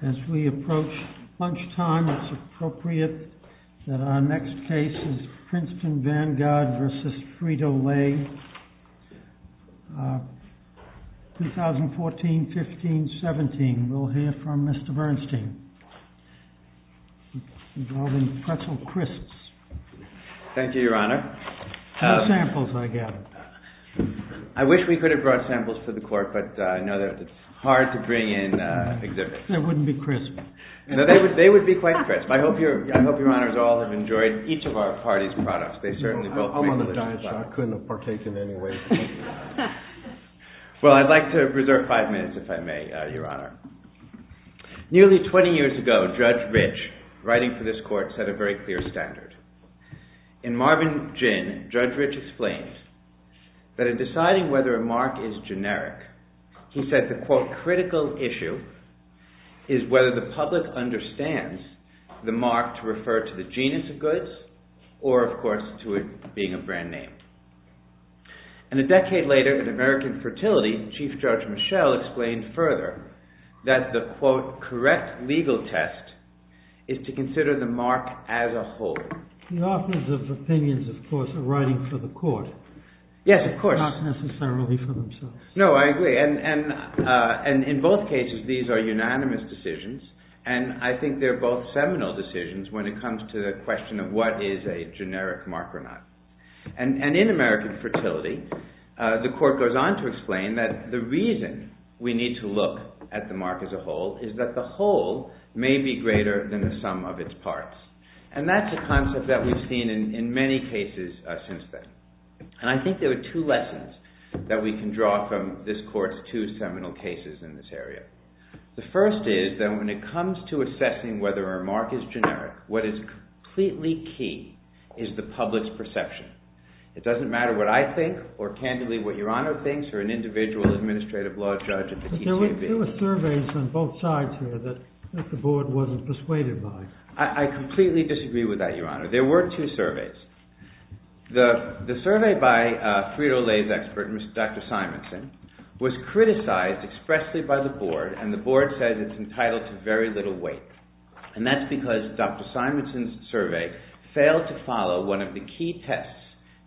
As we approach lunchtime, it's appropriate that our next case is Princeton Vanguard v. Frito-Lay, 2014-15-17. We'll hear from Mr. Bernstein, involving pretzel crisps. Thank you, Your Honor. What samples, I gather? I wish we could have brought samples to the court, but I know that it's hard to bring in exhibits. They wouldn't be crisp. No, they would be quite crisp. I hope Your Honor's all have enjoyed each of our party's products. I'm on a diet, so I couldn't have partaken anyway. Well, I'd like to reserve five minutes, if I may, Your Honor. Nearly 20 years ago, Judge Rich, writing for this court, set a very clear standard. In Marvin Ginn, Judge Rich explained that in deciding whether a mark is generic, he said the, quote, critical issue is whether the public understands the mark to refer to the genus of goods or, of course, to it being a brand name. And a decade later, in American Fertility, Chief Judge Michel explained further that the, quote, correct legal test is to consider the mark as a whole. The authors of opinions, of course, are writing for the court. Yes, of course. Not necessarily for themselves. No, I agree. And in both cases, these are unanimous decisions, and I think they're both seminal decisions when it comes to the question of what is a generic mark or not. And in American Fertility, the court goes on to explain that the reason we need to look at the mark as a whole is that the whole may be greater than the sum of its parts. And that's a concept that we've seen in many cases since then. And I think there are two lessons that we can draw from this court's two seminal cases in this area. The first is that when it comes to assessing whether a mark is generic, what is completely key is the public's perception. It doesn't matter what I think or, candidly, what Your Honor thinks or an individual administrative law judge at the TQB. But there were surveys on both sides here that the board wasn't persuaded by. I completely disagree with that, Your Honor. There were two surveys. The survey by Frito-Lay's expert, Dr. Simonson, was criticized expressly by the board, and the board says it's entitled to very little weight. And that's because Dr. Simonson's survey failed to follow one of the key tests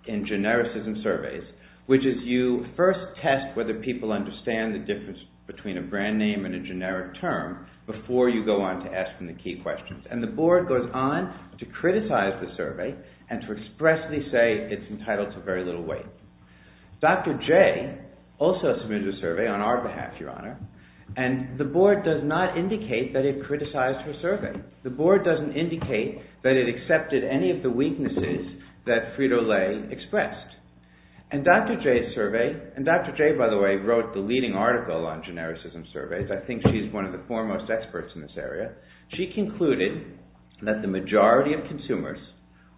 in genericism surveys, which is you first test whether people understand the difference between a brand name and a generic term before you go on to ask them the key questions. And the board goes on to criticize the survey and to expressly say it's entitled to very little weight. Dr. Jay also submitted a survey on our behalf, Your Honor, and the board does not indicate that it criticized her survey. The board doesn't indicate that it accepted any of the weaknesses that Frito-Lay expressed. And Dr. Jay's survey – and Dr. Jay, by the way, wrote the leading article on genericism surveys. I think she's one of the foremost experts in this area. She concluded that the majority of consumers,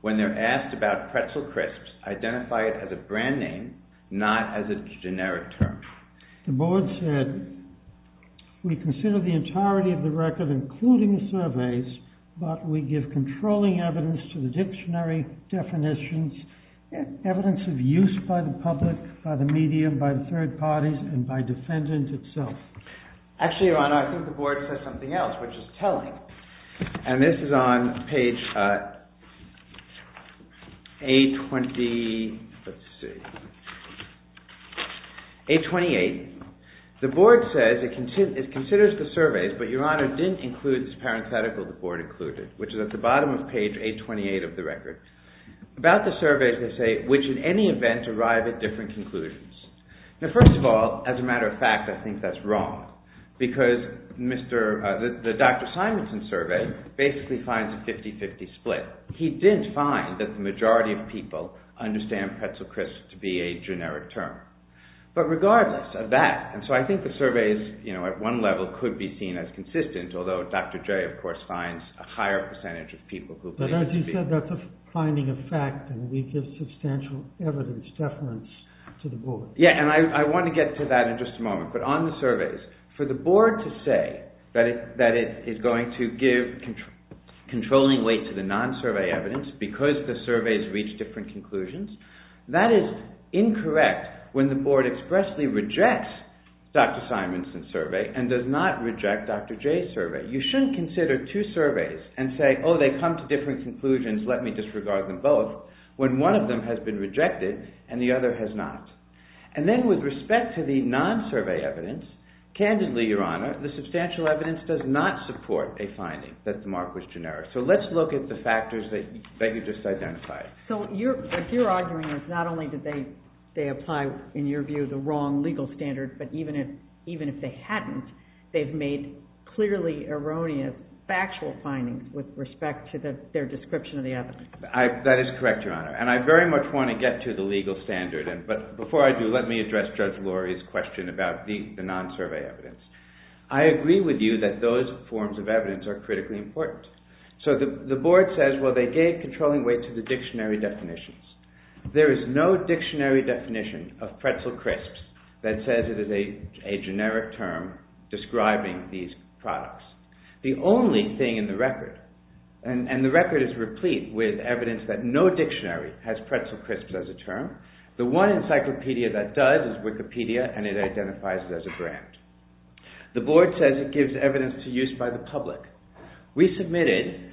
when they're asked about pretzel crisps, identify it as a brand name, not as a generic term. The board said, we consider the entirety of the record, including the surveys, but we give controlling evidence to the dictionary definitions, evidence of use by the public, by the media, by the third parties, and by defendant itself. Actually, Your Honor, I think the board says something else, which is telling. And this is on page 828. The board says it considers the surveys, but Your Honor, didn't include this parenthetical the board included, which is at the bottom of page 828 of the record. About the surveys, they say, which in any event arrive at different conclusions. Now, first of all, as a matter of fact, I think that's wrong. Because the Dr. Simonson survey basically finds a 50-50 split. He didn't find that the majority of people understand pretzel crisps to be a generic term. But regardless of that, and so I think the surveys at one level could be seen as consistent, although Dr. Jay, of course, finds a higher percentage of people who believe it to be. It's a finding of fact, and we give substantial evidence, deference to the board. Yeah, and I want to get to that in just a moment. But on the surveys, for the board to say that it is going to give controlling weight to the non-survey evidence because the surveys reach different conclusions, that is incorrect when the board expressly rejects Dr. Simonson's survey and does not reject Dr. Jay's survey. You shouldn't consider two surveys and say, oh, they come to different conclusions, let me disregard them both, when one of them has been rejected and the other has not. And then with respect to the non-survey evidence, candidly, Your Honor, the substantial evidence does not support a finding that the mark was generic. So let's look at the factors that you just identified. So what you're arguing is not only did they apply, in your view, the wrong legal standard, but even if they hadn't, they've made clearly erroneous factual findings with respect to their description of the evidence. That is correct, Your Honor, and I very much want to get to the legal standard. But before I do, let me address Judge Lori's question about the non-survey evidence. I agree with you that those forms of evidence are critically important. So the board says, well, they gave controlling weight to the dictionary definitions. There is no dictionary definition of pretzel crisps that says it is a generic term describing these products. The only thing in the record, and the record is replete with evidence that no dictionary has pretzel crisps as a term. The one encyclopedia that does is Wikipedia, and it identifies it as a brand. The board says it gives evidence to use by the public. We submitted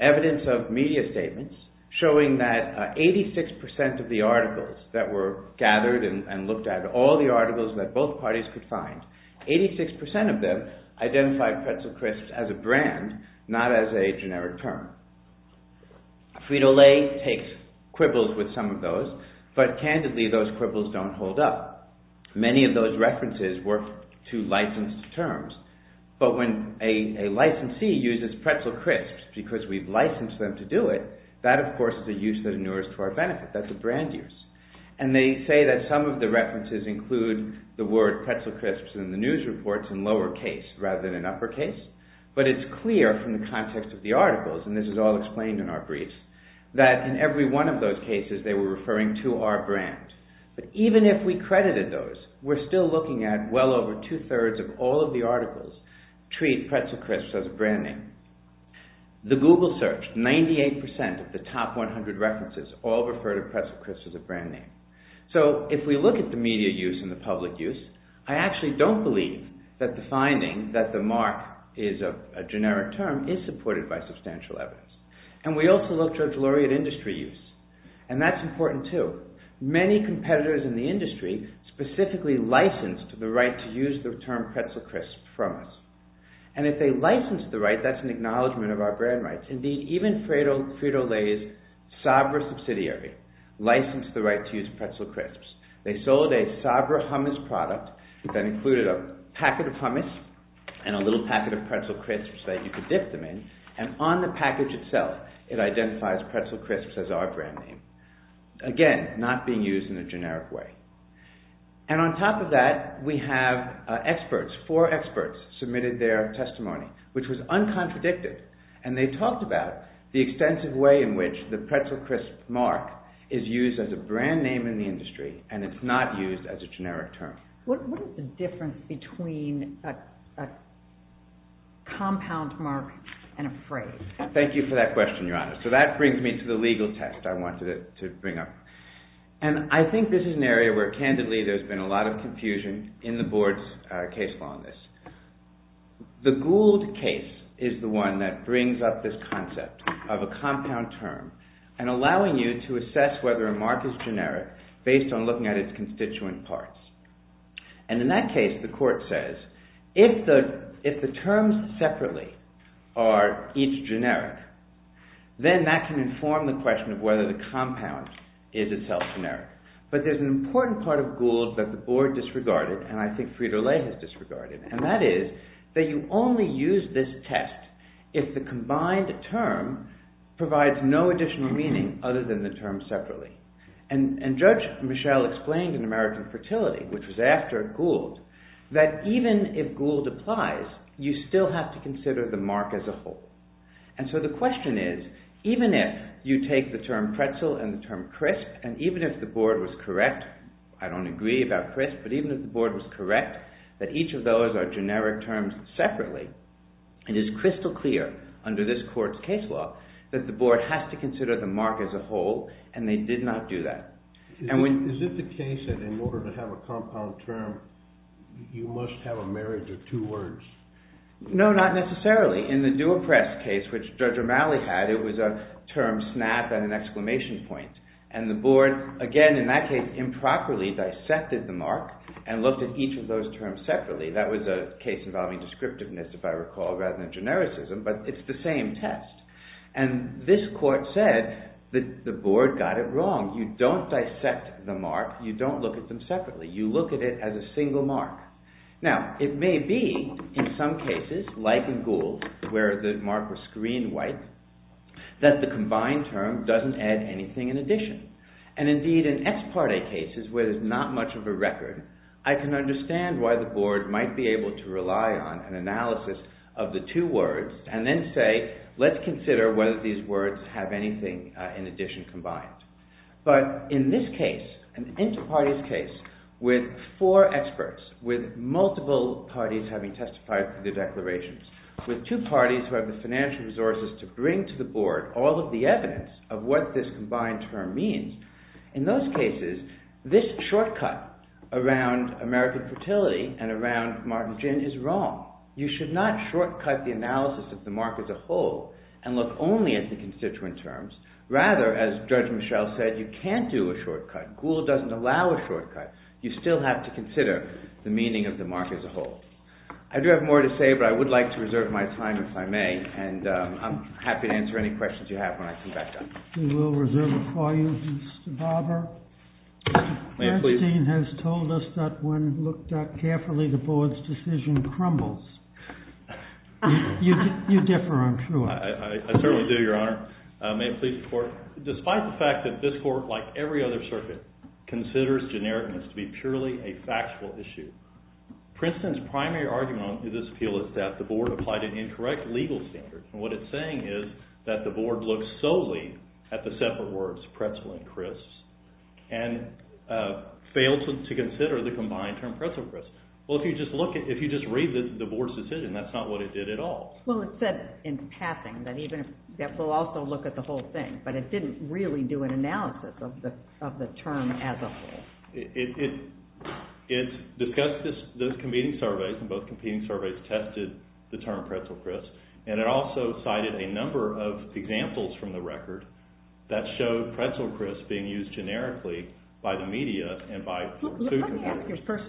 evidence of media statements showing that 86% of the articles that were gathered and looked at, all the articles that both parties could find, 86% of them identified pretzel crisps as a brand, not as a generic term. Frito-Lay takes quibbles with some of those, but candidly, those quibbles don't hold up. Many of those references work to license terms, but when a licensee uses pretzel crisps because we've licensed them to do it, that, of course, is a use that inures to our benefit. That's a brand use. And they say that some of the references include the word pretzel crisps in the news reports in lowercase rather than in uppercase. But it's clear from the context of the articles, and this is all explained in our briefs, that in every one of those cases, they were referring to our brand. But even if we credited those, we're still looking at well over two-thirds of all of the articles treat pretzel crisps as a brand name. The Google search, 98% of the top 100 references all refer to pretzel crisps as a brand name. So if we look at the media use and the public use, I actually don't believe that the finding that the mark is a generic term is supported by substantial evidence. And we also look to a delirious industry use, and that's important too. Many competitors in the industry specifically licensed the right to use the term pretzel crisps from us. And if they licensed the right, that's an acknowledgment of our brand rights. Indeed, even Frito-Lay's Sabra subsidiary licensed the right to use pretzel crisps. They sold a Sabra hummus product that included a packet of hummus and a little packet of pretzel crisps that you could dip them in, and on the package itself, it identifies pretzel crisps as our brand name. Again, not being used in a generic way. And on top of that, we have experts, four experts submitted their testimony, which was uncontradictive. And they talked about the extensive way in which the pretzel crisp mark is used as a brand name in the industry, and it's not used as a generic term. What is the difference between a compound mark and a phrase? Thank you for that question, Your Honor. So that brings me to the legal test I wanted to bring up. And I think this is an area where, candidly, there's been a lot of confusion in the board's case law on this. The Gould case is the one that brings up this concept of a compound term and allowing you to assess whether a mark is generic based on looking at its constituent parts. And in that case, the court says, if the terms separately are each generic, then that can inform the question of whether the compound is itself generic. But there's an important part of Gould that the board disregarded, and I think Frito-Lay has disregarded, and that is that you only use this test if the combined term provides no additional meaning other than the term separately. And Judge Michel explained in American Fertility, which was after Gould, that even if Gould applies, you still have to consider the mark as a whole. And so the question is, even if you take the term pretzel and the term crisp, and even if the board was correct, I don't agree about crisp, but even if the board was correct, that each of those are generic terms separately, it is crystal clear under this court's case law that the board has to consider the mark as a whole, and they did not do that. Is it the case that in order to have a compound term, you must have a marriage of two words? No, not necessarily. In the Dewa Press case, which Judge O'Malley had, it was a term snap and an exclamation point. And the board, again in that case, improperly dissected the mark and looked at each of those terms separately. That was a case involving descriptiveness, if I recall, rather than genericism, but it's the same test. And this court said that the board got it wrong. You don't dissect the mark. You don't look at them separately. You look at it as a single mark. Now, it may be in some cases, like in Gould, where the mark was screen white, that the combined term doesn't add anything in addition. And indeed, in ex parte cases where there's not much of a record, I can understand why the board might be able to rely on an analysis of the two words and then say, let's consider whether these words have anything in addition combined. But in this case, an inter-parties case with four experts, with multiple parties having testified to the declarations, with two parties who have the financial resources to bring to the board all of the evidence of what this combined term means, in those cases, this shortcut around American fertility and around Martin Gin is wrong. You should not shortcut the analysis of the mark as a whole and look only at the constituent terms. Rather, as Judge Michel said, you can't do a shortcut. Gould doesn't allow a shortcut. You still have to consider the meaning of the mark as a whole. I do have more to say, but I would like to reserve my time, if I may. And I'm happy to answer any questions you have when I come back down. We will reserve it for you, Mr. Barber. May it please the court. Mr. Kastin has told us that when looked at carefully, the board's decision crumbles. You differ, I'm sure. I certainly do, Your Honor. May it please the court. Despite the fact that this court, like every other circuit, considers genericness to be purely a factual issue, Princeton's primary argument on this appeal is that the board applied an incorrect legal standard. And what it's saying is that the board looked solely at the separate words, pretzel and crisps, and failed to consider the combined term pretzel and crisps. Well, if you just read the board's decision, that's not what it did at all. Well, it said in passing that we'll also look at the whole thing, but it didn't really do an analysis of the term as a whole. It discussed those competing surveys, and both competing surveys tested the term pretzel and crisps, and it also cited a number of examples from the record that showed pretzel and crisps being used generically by the media. Let me ask you this first.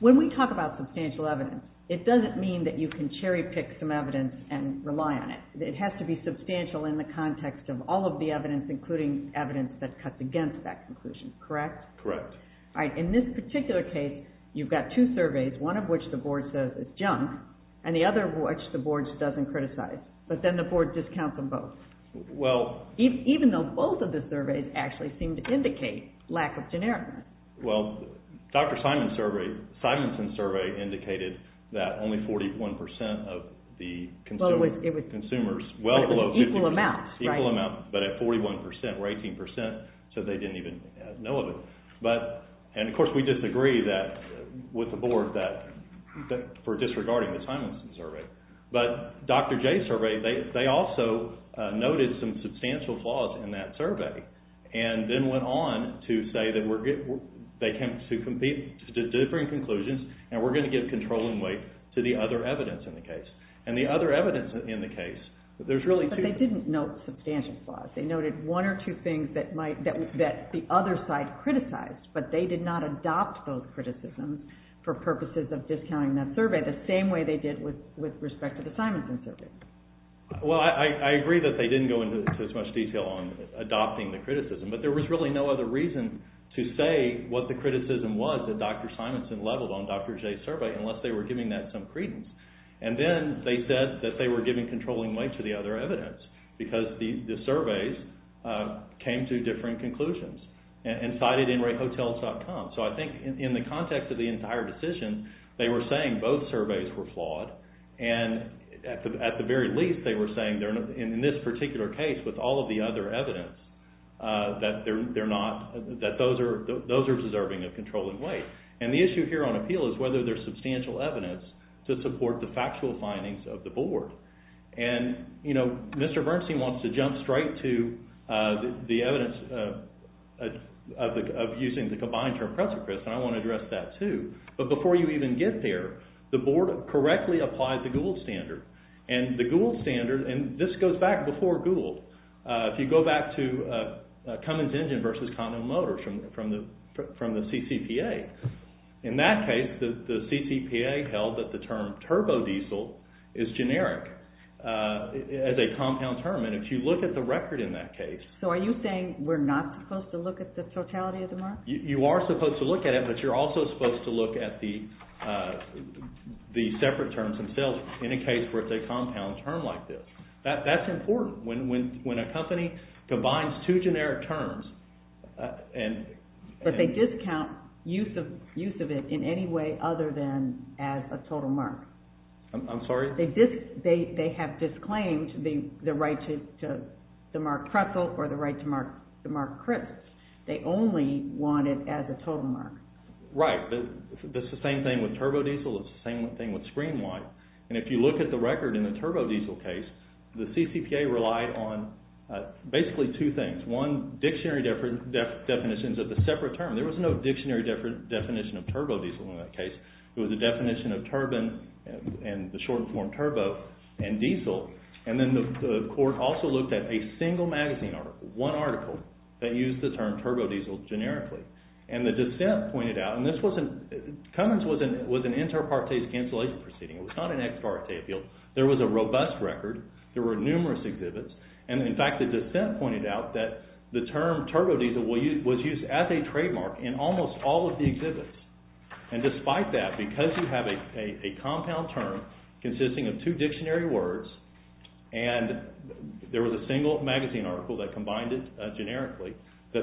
When we talk about substantial evidence, it doesn't mean that you can cherry-pick some evidence and rely on it. It has to be substantial in the context of all of the evidence, including evidence that cuts against that conclusion, correct? Correct. In this particular case, you've got two surveys, one of which the board says is junk, and the other of which the board doesn't criticize, but then the board discounts them both. Even though both of the surveys actually seem to indicate lack of genericness. Well, Dr. Simonson's survey indicated that only 41 percent of the consumers, well below 50 percent. Equal amounts, right? Equal amounts, but at 41 percent or 18 percent, so they didn't even know of it. And, of course, we disagree with the board for disregarding the Simonson survey. But Dr. J's survey, they also noted some substantial flaws in that survey, and then went on to say that they came to differing conclusions, and we're going to give control and weight to the other evidence in the case. And the other evidence in the case, there's really two of them. But they didn't note substantial flaws. They noted one or two things that the other side criticized, but they did not adopt those criticisms for purposes of discounting that survey the same way they did with respect to the Simonson survey. Well, I agree that they didn't go into as much detail on adopting the criticism, but there was really no other reason to say what the criticism was that Dr. Simonson leveled on Dr. J's survey unless they were giving that some credence. And then they said that they were giving controlling weight to the other evidence because the surveys came to differing conclusions and cited nreighthotels.com. So I think in the context of the entire decision, they were saying both surveys were flawed, and at the very least they were saying in this particular case with all of the other evidence that those are deserving of controlling weight. And the issue here on appeal is whether there's substantial evidence to support the factual findings of the board. And, you know, Mr. Bernstein wants to jump straight to the evidence of using the combined term precipice, and I want to address that too. But before you even get there, the board correctly applied the Gould standard. And the Gould standard, and this goes back before Gould, if you go back to Cummins Engine versus Condon Motors from the CCPA, in that case the CCPA held that the term turbodiesel is generic as a compound term. And if you look at the record in that case. So are you saying we're not supposed to look at the totality of the market? You are supposed to look at it, but you're also supposed to look at the separate terms themselves in a case where it's a compound term like this. That's important. When a company combines two generic terms and... But they discount use of it in any way other than as a total mark. I'm sorry? They have disclaimed the right to mark Kressel or the right to mark Krips. They only want it as a total mark. Right. It's the same thing with turbodiesel. It's the same thing with screen life. And if you look at the record in the turbodiesel case, the CCPA relied on basically two things. One, dictionary definitions of the separate term. There was no dictionary definition of turbodiesel in that case. It was a definition of turbine and the shortened form turbo and diesel. And then the court also looked at a single magazine article, one article, that used the term turbodiesel generically. And the dissent pointed out, and this wasn't... Cummins was an inter partes cancellation proceeding. It was not an ex parte appeal. There was a robust record. There were numerous exhibits. And in fact the dissent pointed out that the term turbodiesel was used as a trademark in almost all of the exhibits. And despite that, because you have a compound term consisting of two dictionary words and there was a single magazine article that combined it generically, so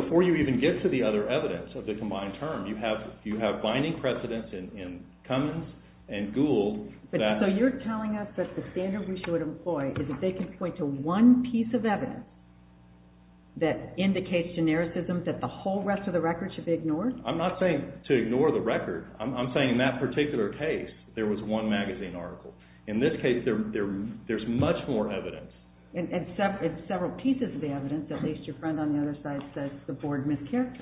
before you even get to the other evidence of the combined term, you have binding precedence in Cummins and Gould that... So you're telling us that the standard we should employ is that they can point to one piece of evidence that indicates genericism that the whole rest of the record should be ignored? I'm not saying to ignore the record. I'm saying in that particular case, there was one magazine article. In this case, there's much more evidence. It's several pieces of evidence. At least your friend on the other side says the board mischaracterized.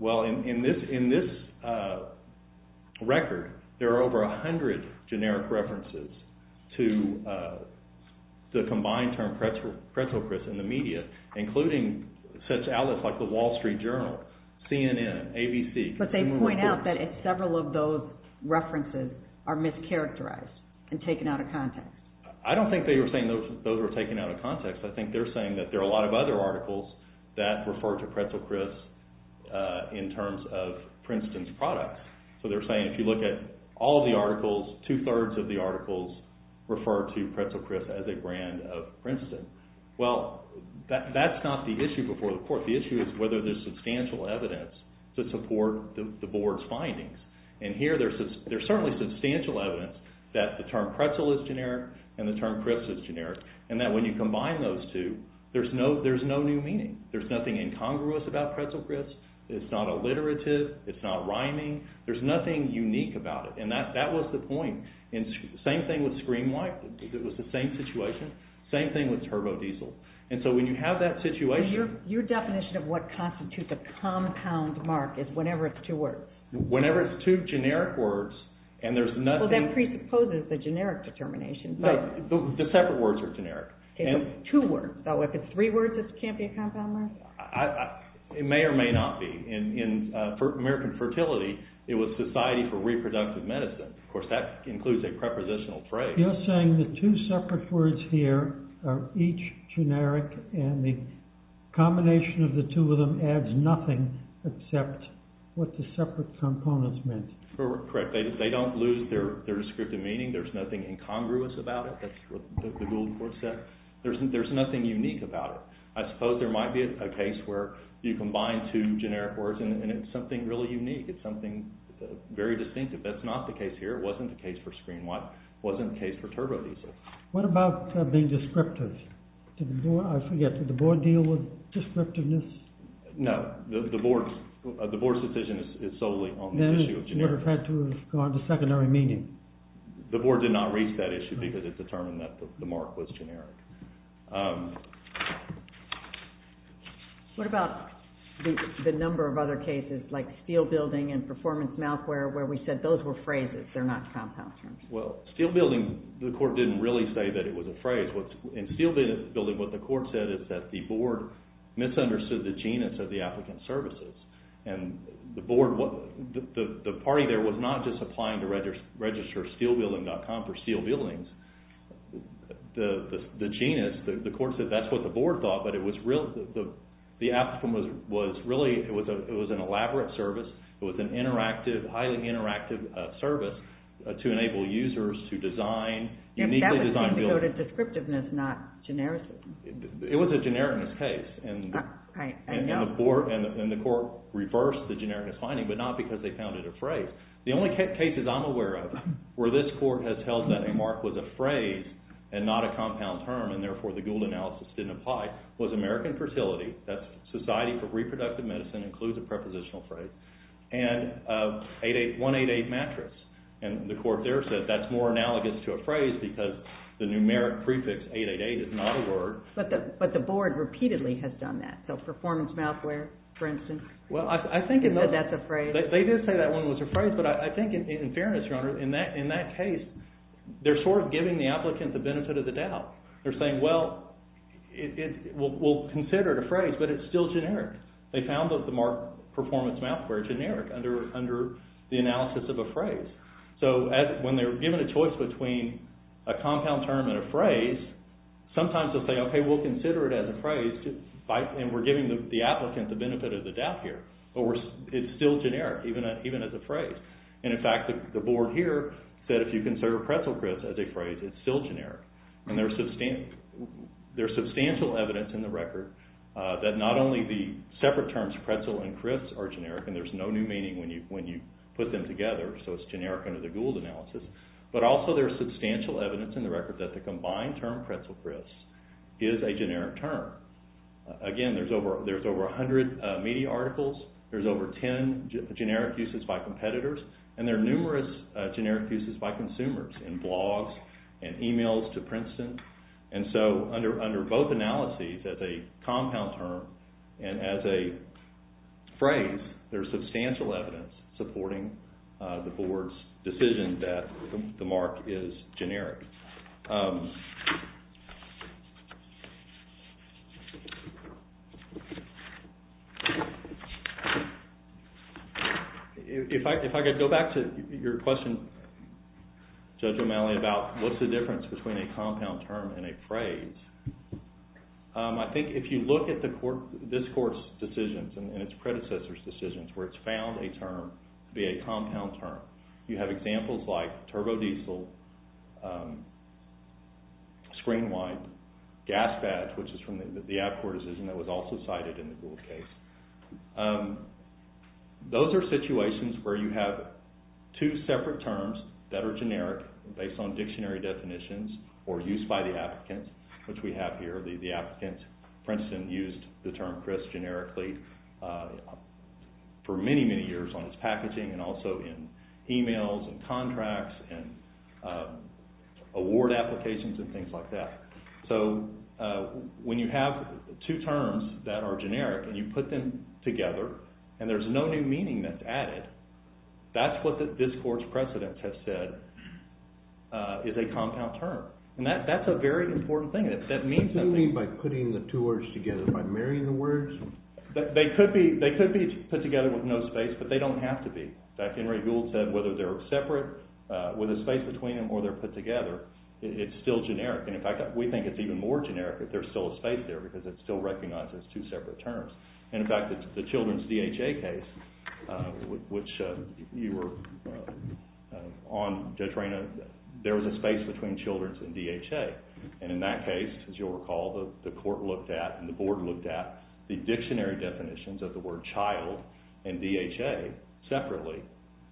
Well, in this record, there are over 100 generic references to the combined term pretzel crisps in the media, including such outlets like the Wall Street Journal, CNN, ABC. But they point out that several of those references are mischaracterized and taken out of context. I don't think they were saying those were taken out of context. I think they're saying that there are a lot of other articles that refer to pretzel crisps in terms of Princeton's products. So they're saying if you look at all the articles, two-thirds of the articles refer to pretzel crisps as a brand of Princeton. Well, that's not the issue before the court. The issue is whether there's substantial evidence to support the board's findings. And here, there's certainly substantial evidence that the term pretzel is generic and the term crisps is generic, and that when you combine those two, there's no new meaning. There's nothing incongruous about pretzel crisps. It's not alliterative. It's not rhyming. There's nothing unique about it, and that was the point. Same thing with Scream White. It was the same situation. Same thing with turbodiesel. And so when you have that situation— Your definition of what constitutes a compound mark is whenever it's two words. Whenever it's two generic words, and there's nothing— Well, that presupposes the generic determination. No, the separate words are generic. Okay, but it's two words. So if it's three words, it can't be a compound mark? It may or may not be. In American Fertility, it was Society for Reproductive Medicine. Of course, that includes a prepositional phrase. You're saying the two separate words here are each generic, and the combination of the two of them adds nothing except what the separate components meant. Correct. They don't lose their descriptive meaning. There's nothing incongruous about it. That's what the Gould Court said. There's nothing unique about it. I suppose there might be a case where you combine two generic words, and it's something really unique. It's something very distinctive. That's not the case here. It wasn't the case for Scream White. It wasn't the case for turbodiesel. What about being descriptive? Did the Board deal with descriptiveness? No, the Board's decision is solely on the issue of generic. Then it would have had to have gone to secondary meaning. The Board did not reach that issue because it determined that the mark was generic. What about the number of other cases, like steel building and performance mouthwear, where we said those were phrases, they're not compound terms? Steel building, the Court didn't really say that it was a phrase. In steel building, what the Court said is that the Board misunderstood the genus of the applicant's services. The party there was not just applying to register steelbuilding.com for steel buildings. The genus, the Court said that's what the Board thought, but the applicant was really, it was an elaborate service. It was a highly interactive service to enable users to design uniquely designed buildings. That would seem to go to descriptiveness, not genericism. It was a genericness case, and the Court reversed the genericness finding, but not because they found it a phrase. The only cases I'm aware of where this Court has held that a mark was a phrase and not a compound term, and therefore the Gould analysis didn't apply, was American Fertility, that's Society for Reproductive Medicine, includes a prepositional phrase, and 188 mattress. The Court there said that's more analogous to a phrase because the numeric prefix 888 is not a word. But the Board repeatedly has done that, so performance mouthwear, for instance. Well, I think in those... They said that's a phrase. They did say that one was a phrase, but I think in fairness, Your Honor, in that case, they're sort of giving the applicant the benefit of the doubt. They're saying, well, we'll consider it a phrase, but it's still generic. They found that the mark performance mouthwear is generic under the analysis of a phrase. So when they're given a choice between a compound term and a phrase, sometimes they'll say, okay, we'll consider it as a phrase, and we're giving the applicant the benefit of the doubt here. But it's still generic, even as a phrase. And in fact, the Board here said if you consider pretzel grits as a phrase, it's still generic. And there's substantial evidence in the record that not only the separate terms pretzel and grits are generic, and there's no new meaning when you put them together, so it's generic under the Gould analysis, but also there's substantial evidence in the record that the combined term pretzel grits is a generic term. Again, there's over 100 media articles. There's over 10 generic uses by competitors, and there are numerous generic uses by consumers in blogs and emails to Princeton. And so under both analyses, as a compound term and as a phrase, there's substantial evidence supporting the Board's decision that the mark is generic. If I could go back to your question, Judge O'Malley, about what's the difference between a compound term and a phrase, I think if you look at this Court's decisions and its predecessors' decisions, where it's found a term to be a compound term, you have examples like turbodiesel, screenwipe, gas badge, which is from the Apcor decision that was also cited in the Gould case. Those are situations where you have two separate terms that are generic based on dictionary definitions or used by the applicant, which we have here. The applicant, Princeton, used the term grits generically for many, many years on its packaging and also in emails and contracts and award applications and things like that. So when you have two terms that are generic and you put them together and there's no new meaning that's added, that's what this Court's precedent has said is a compound term. And that's a very important thing. What do you mean by putting the two words together? By marrying the words? They could be put together with no space, but they don't have to be. In fact, Henry Gould said whether they're separate with a space between them or they're put together, it's still generic. And in fact, we think it's even more generic if there's still a space there because it's still recognized as two separate terms. And in fact, the children's DHA case, which you were on, Judge Reyna, there was a space between children's and DHA. And in that case, as you'll recall, the Court looked at and the Board looked at the dictionary definitions of the word child and DHA separately.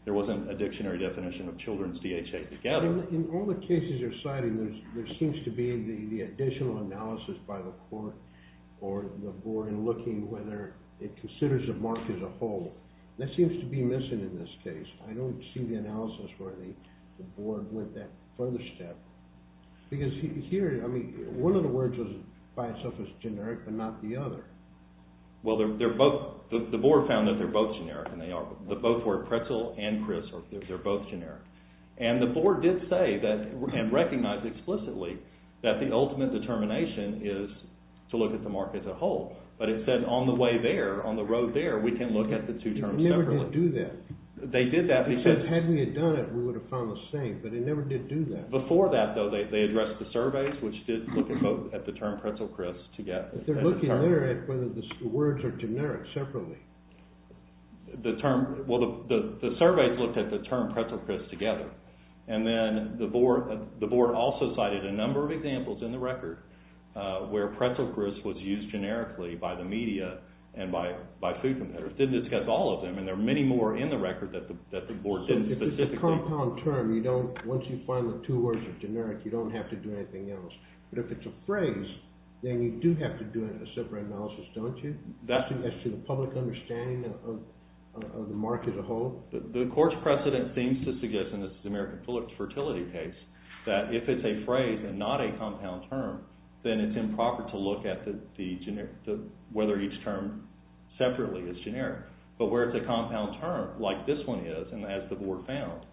There wasn't a dictionary definition of children's DHA together. In all the cases you're citing, there seems to be the additional analysis by the Court or the Board in looking whether it considers a mark as a whole. That seems to be missing in this case. I don't see the analysis where the Board went that further step. Because here, I mean, one of the words by itself is generic, but not the other. Well, the Board found that they're both generic and they are. The both were pretzel and crisp. They're both generic. that the ultimate determination is to look at the mark as a whole. But it said on the way there, on the road there, we can look at the two terms separately. It never did do that. They did that because... Because had we done it, we would have found the same. But it never did do that. Before that, though, they addressed the surveys which did look at the term pretzel crisp together. But they're looking there at whether the words are generic separately. Well, the surveys looked at the term pretzel crisp together. And then the Board also cited a number of examples in the record where pretzel crisp was used generically by the media and by food competitors. It didn't discuss all of them. And there are many more in the record that the Board didn't specifically... So if it's a compound term, you don't... Once you find the two words are generic, you don't have to do anything else. But if it's a phrase, then you do have to do a separate analysis, don't you? That's to the public understanding of the mark as a whole. The court's precedent seems to suggest, and this is the American Phillips Fertility case, that if it's a phrase and not a compound term, then it's improper to look at whether each term separately is generic. But where it's a compound term, like this one is, and as the Board found,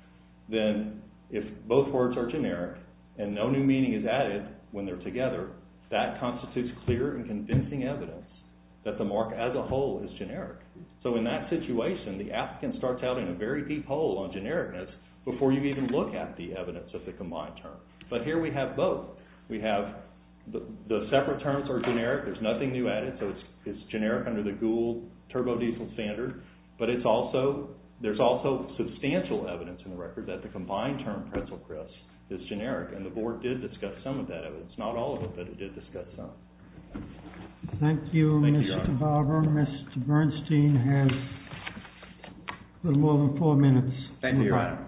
then if both words are generic and no new meaning is added when they're together, that constitutes clear and convincing evidence that the mark as a whole is generic. So in that situation, the applicant starts out in a very deep hole on genericness before you even look at the evidence of the combined term. But here we have both. The separate terms are generic, there's nothing new added, so it's generic under the Gould Turbodiesel standard. But there's also substantial evidence in the record that the combined term pretzel crisp is generic, and the Board did discuss some of that evidence. Not all of it, but it did discuss some. Thank you, Mr. Barber. Mr. Bernstein has a little more than four minutes. Thank you, Your Honor.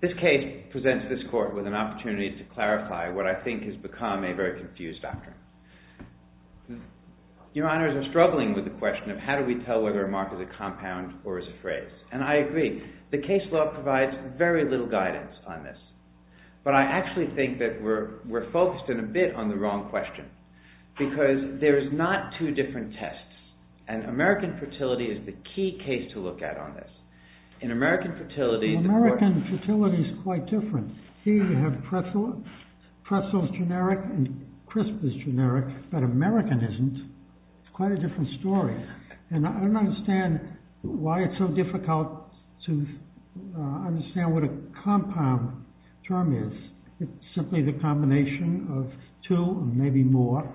This case presents this Court with an opportunity to clarify what I think has become a very confused doctrine. Your Honors, I'm struggling with the question of how do we tell whether a mark is a compound or is a phrase. And I agree, the case law provides very little guidance on this. But I actually think that we're focused in a bit on the wrong question, because there's not two different tests. And American fertility is the key case to look at on this. In American fertility... In American fertility, it's quite different. Here you have pretzel. Pretzel is generic and crisp is generic, but American isn't. It's quite a different story. And I don't understand why it's so difficult to understand what a compound term is. It's simply the combination of two, maybe more,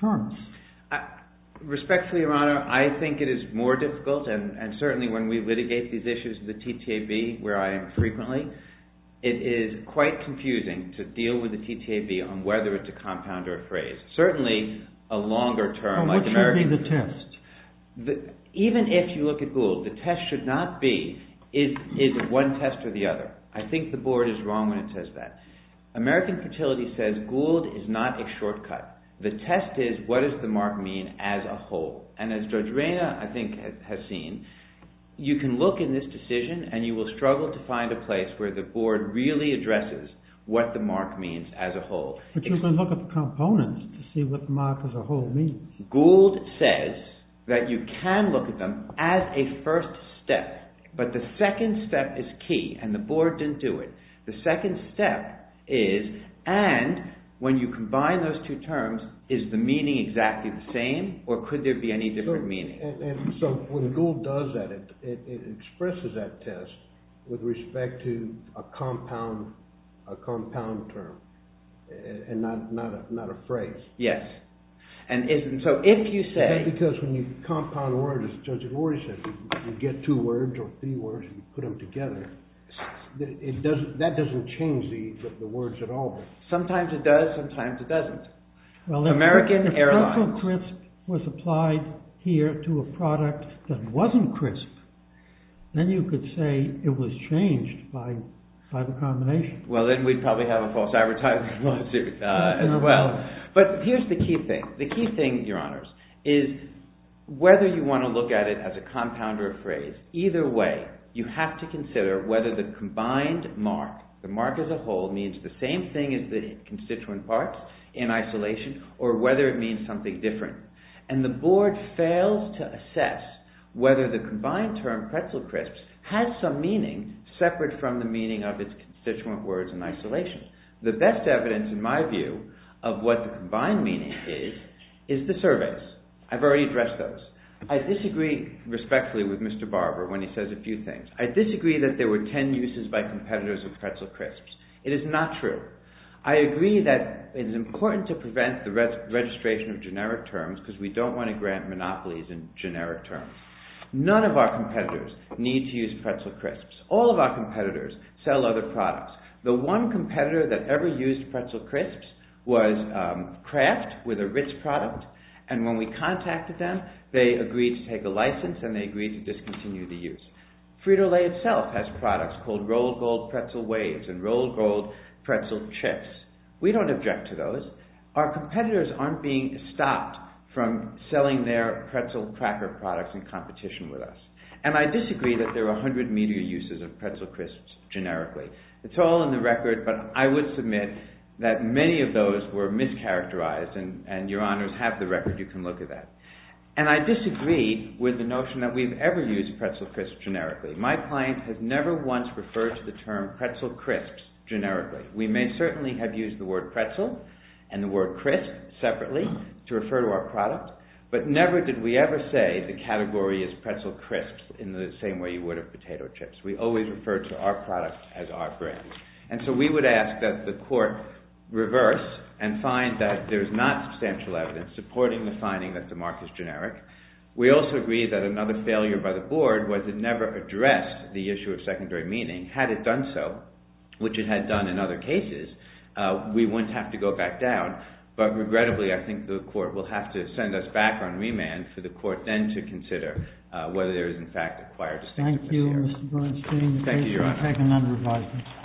terms. Respectfully, Your Honor, I think it is more difficult, and certainly when we litigate these issues in the TTAB, where I am frequently, it is quite confusing to deal with the TTAB on whether it's a compound or a phrase. Certainly, a longer term... What should be the test? Even if you look at Gould, the test should not be, is it one test or the other? I think the Board is wrong when it says that. American fertility says Gould is not a shortcut. The test is what does the mark mean as a whole? And as Judge Reyna, I think, has seen, you can look in this decision and you will struggle to find a place where the Board really addresses what the mark means as a whole. But you can look at the components to see what the mark as a whole means. Gould says that you can look at them as a first step, but the second step is key and the Board didn't do it. The second step is, and when you combine those two terms, is the meaning exactly the same or could there be any different meaning? So, when Gould does that, it expresses that test with respect to a compound term and not a phrase. Yes. And so, if you say... Because when you compound words, as Judge Rory said, you get two words or three words and you put them together, that doesn't change the words at all. Sometimes it does, sometimes it doesn't. Well, the principle crisp was applied here to a product that wasn't crisp. Then you could say it was changed by the combination. Well, then we'd probably have a false advertisement as well. But here's the key thing. The key thing, Your Honours, is whether you want to look at it as a compound or a phrase, either way, you have to consider whether the combined mark, the mark as a whole, means the same thing as the constituent part in isolation or whether it means something different. And the Board fails to assess whether the combined term pretzel crisps has some meaning separate from the meaning of its constituent words in isolation. The best evidence, in my view, of what the combined meaning is, is the surveys. I've already addressed those. I disagree respectfully with Mr. Barber when he says a few things. I disagree that there were ten uses by competitors of pretzel crisps. It is not true. I agree that it is important to prevent the registration of generic terms because we don't want to grant monopolies in generic terms. None of our competitors need to use pretzel crisps. All of our competitors sell other products. The one competitor that ever used pretzel crisps was Kraft with a Ritz product, and when we contacted them, they agreed to take a license and they agreed to discontinue the use. Frito-Lay itself has products called rolled gold pretzel waves and rolled gold pretzel chips. We don't object to those. Our competitors aren't being stopped from selling their pretzel cracker products in competition with us. And I disagree that there are 100 media uses of pretzel crisps generically. It's all in the record, but I would submit that many of those were mischaracterized, and your honors have the record. You can look at that. And I disagree with the notion that we've ever used pretzel crisps generically. My client has never once referred to the term pretzel crisps generically. We may certainly have used the word pretzel and the word crisp separately to refer to our product, but never did we ever say the category is pretzel crisps in the same way you would of potato chips. We always refer to our product as our brand. And so we would ask that the court reverse and find that there's not substantial evidence supporting the finding that the mark is generic. We also agree that another failure by the board was it never addressed the issue of secondary meaning had it done so, which it had done in other cases, we wouldn't have to go back down. But regrettably, I think the court will have to send us back on remand for the court then to consider whether there is in fact acquired distinction. Thank you, Mr. Bernstein. Thank you, your honor.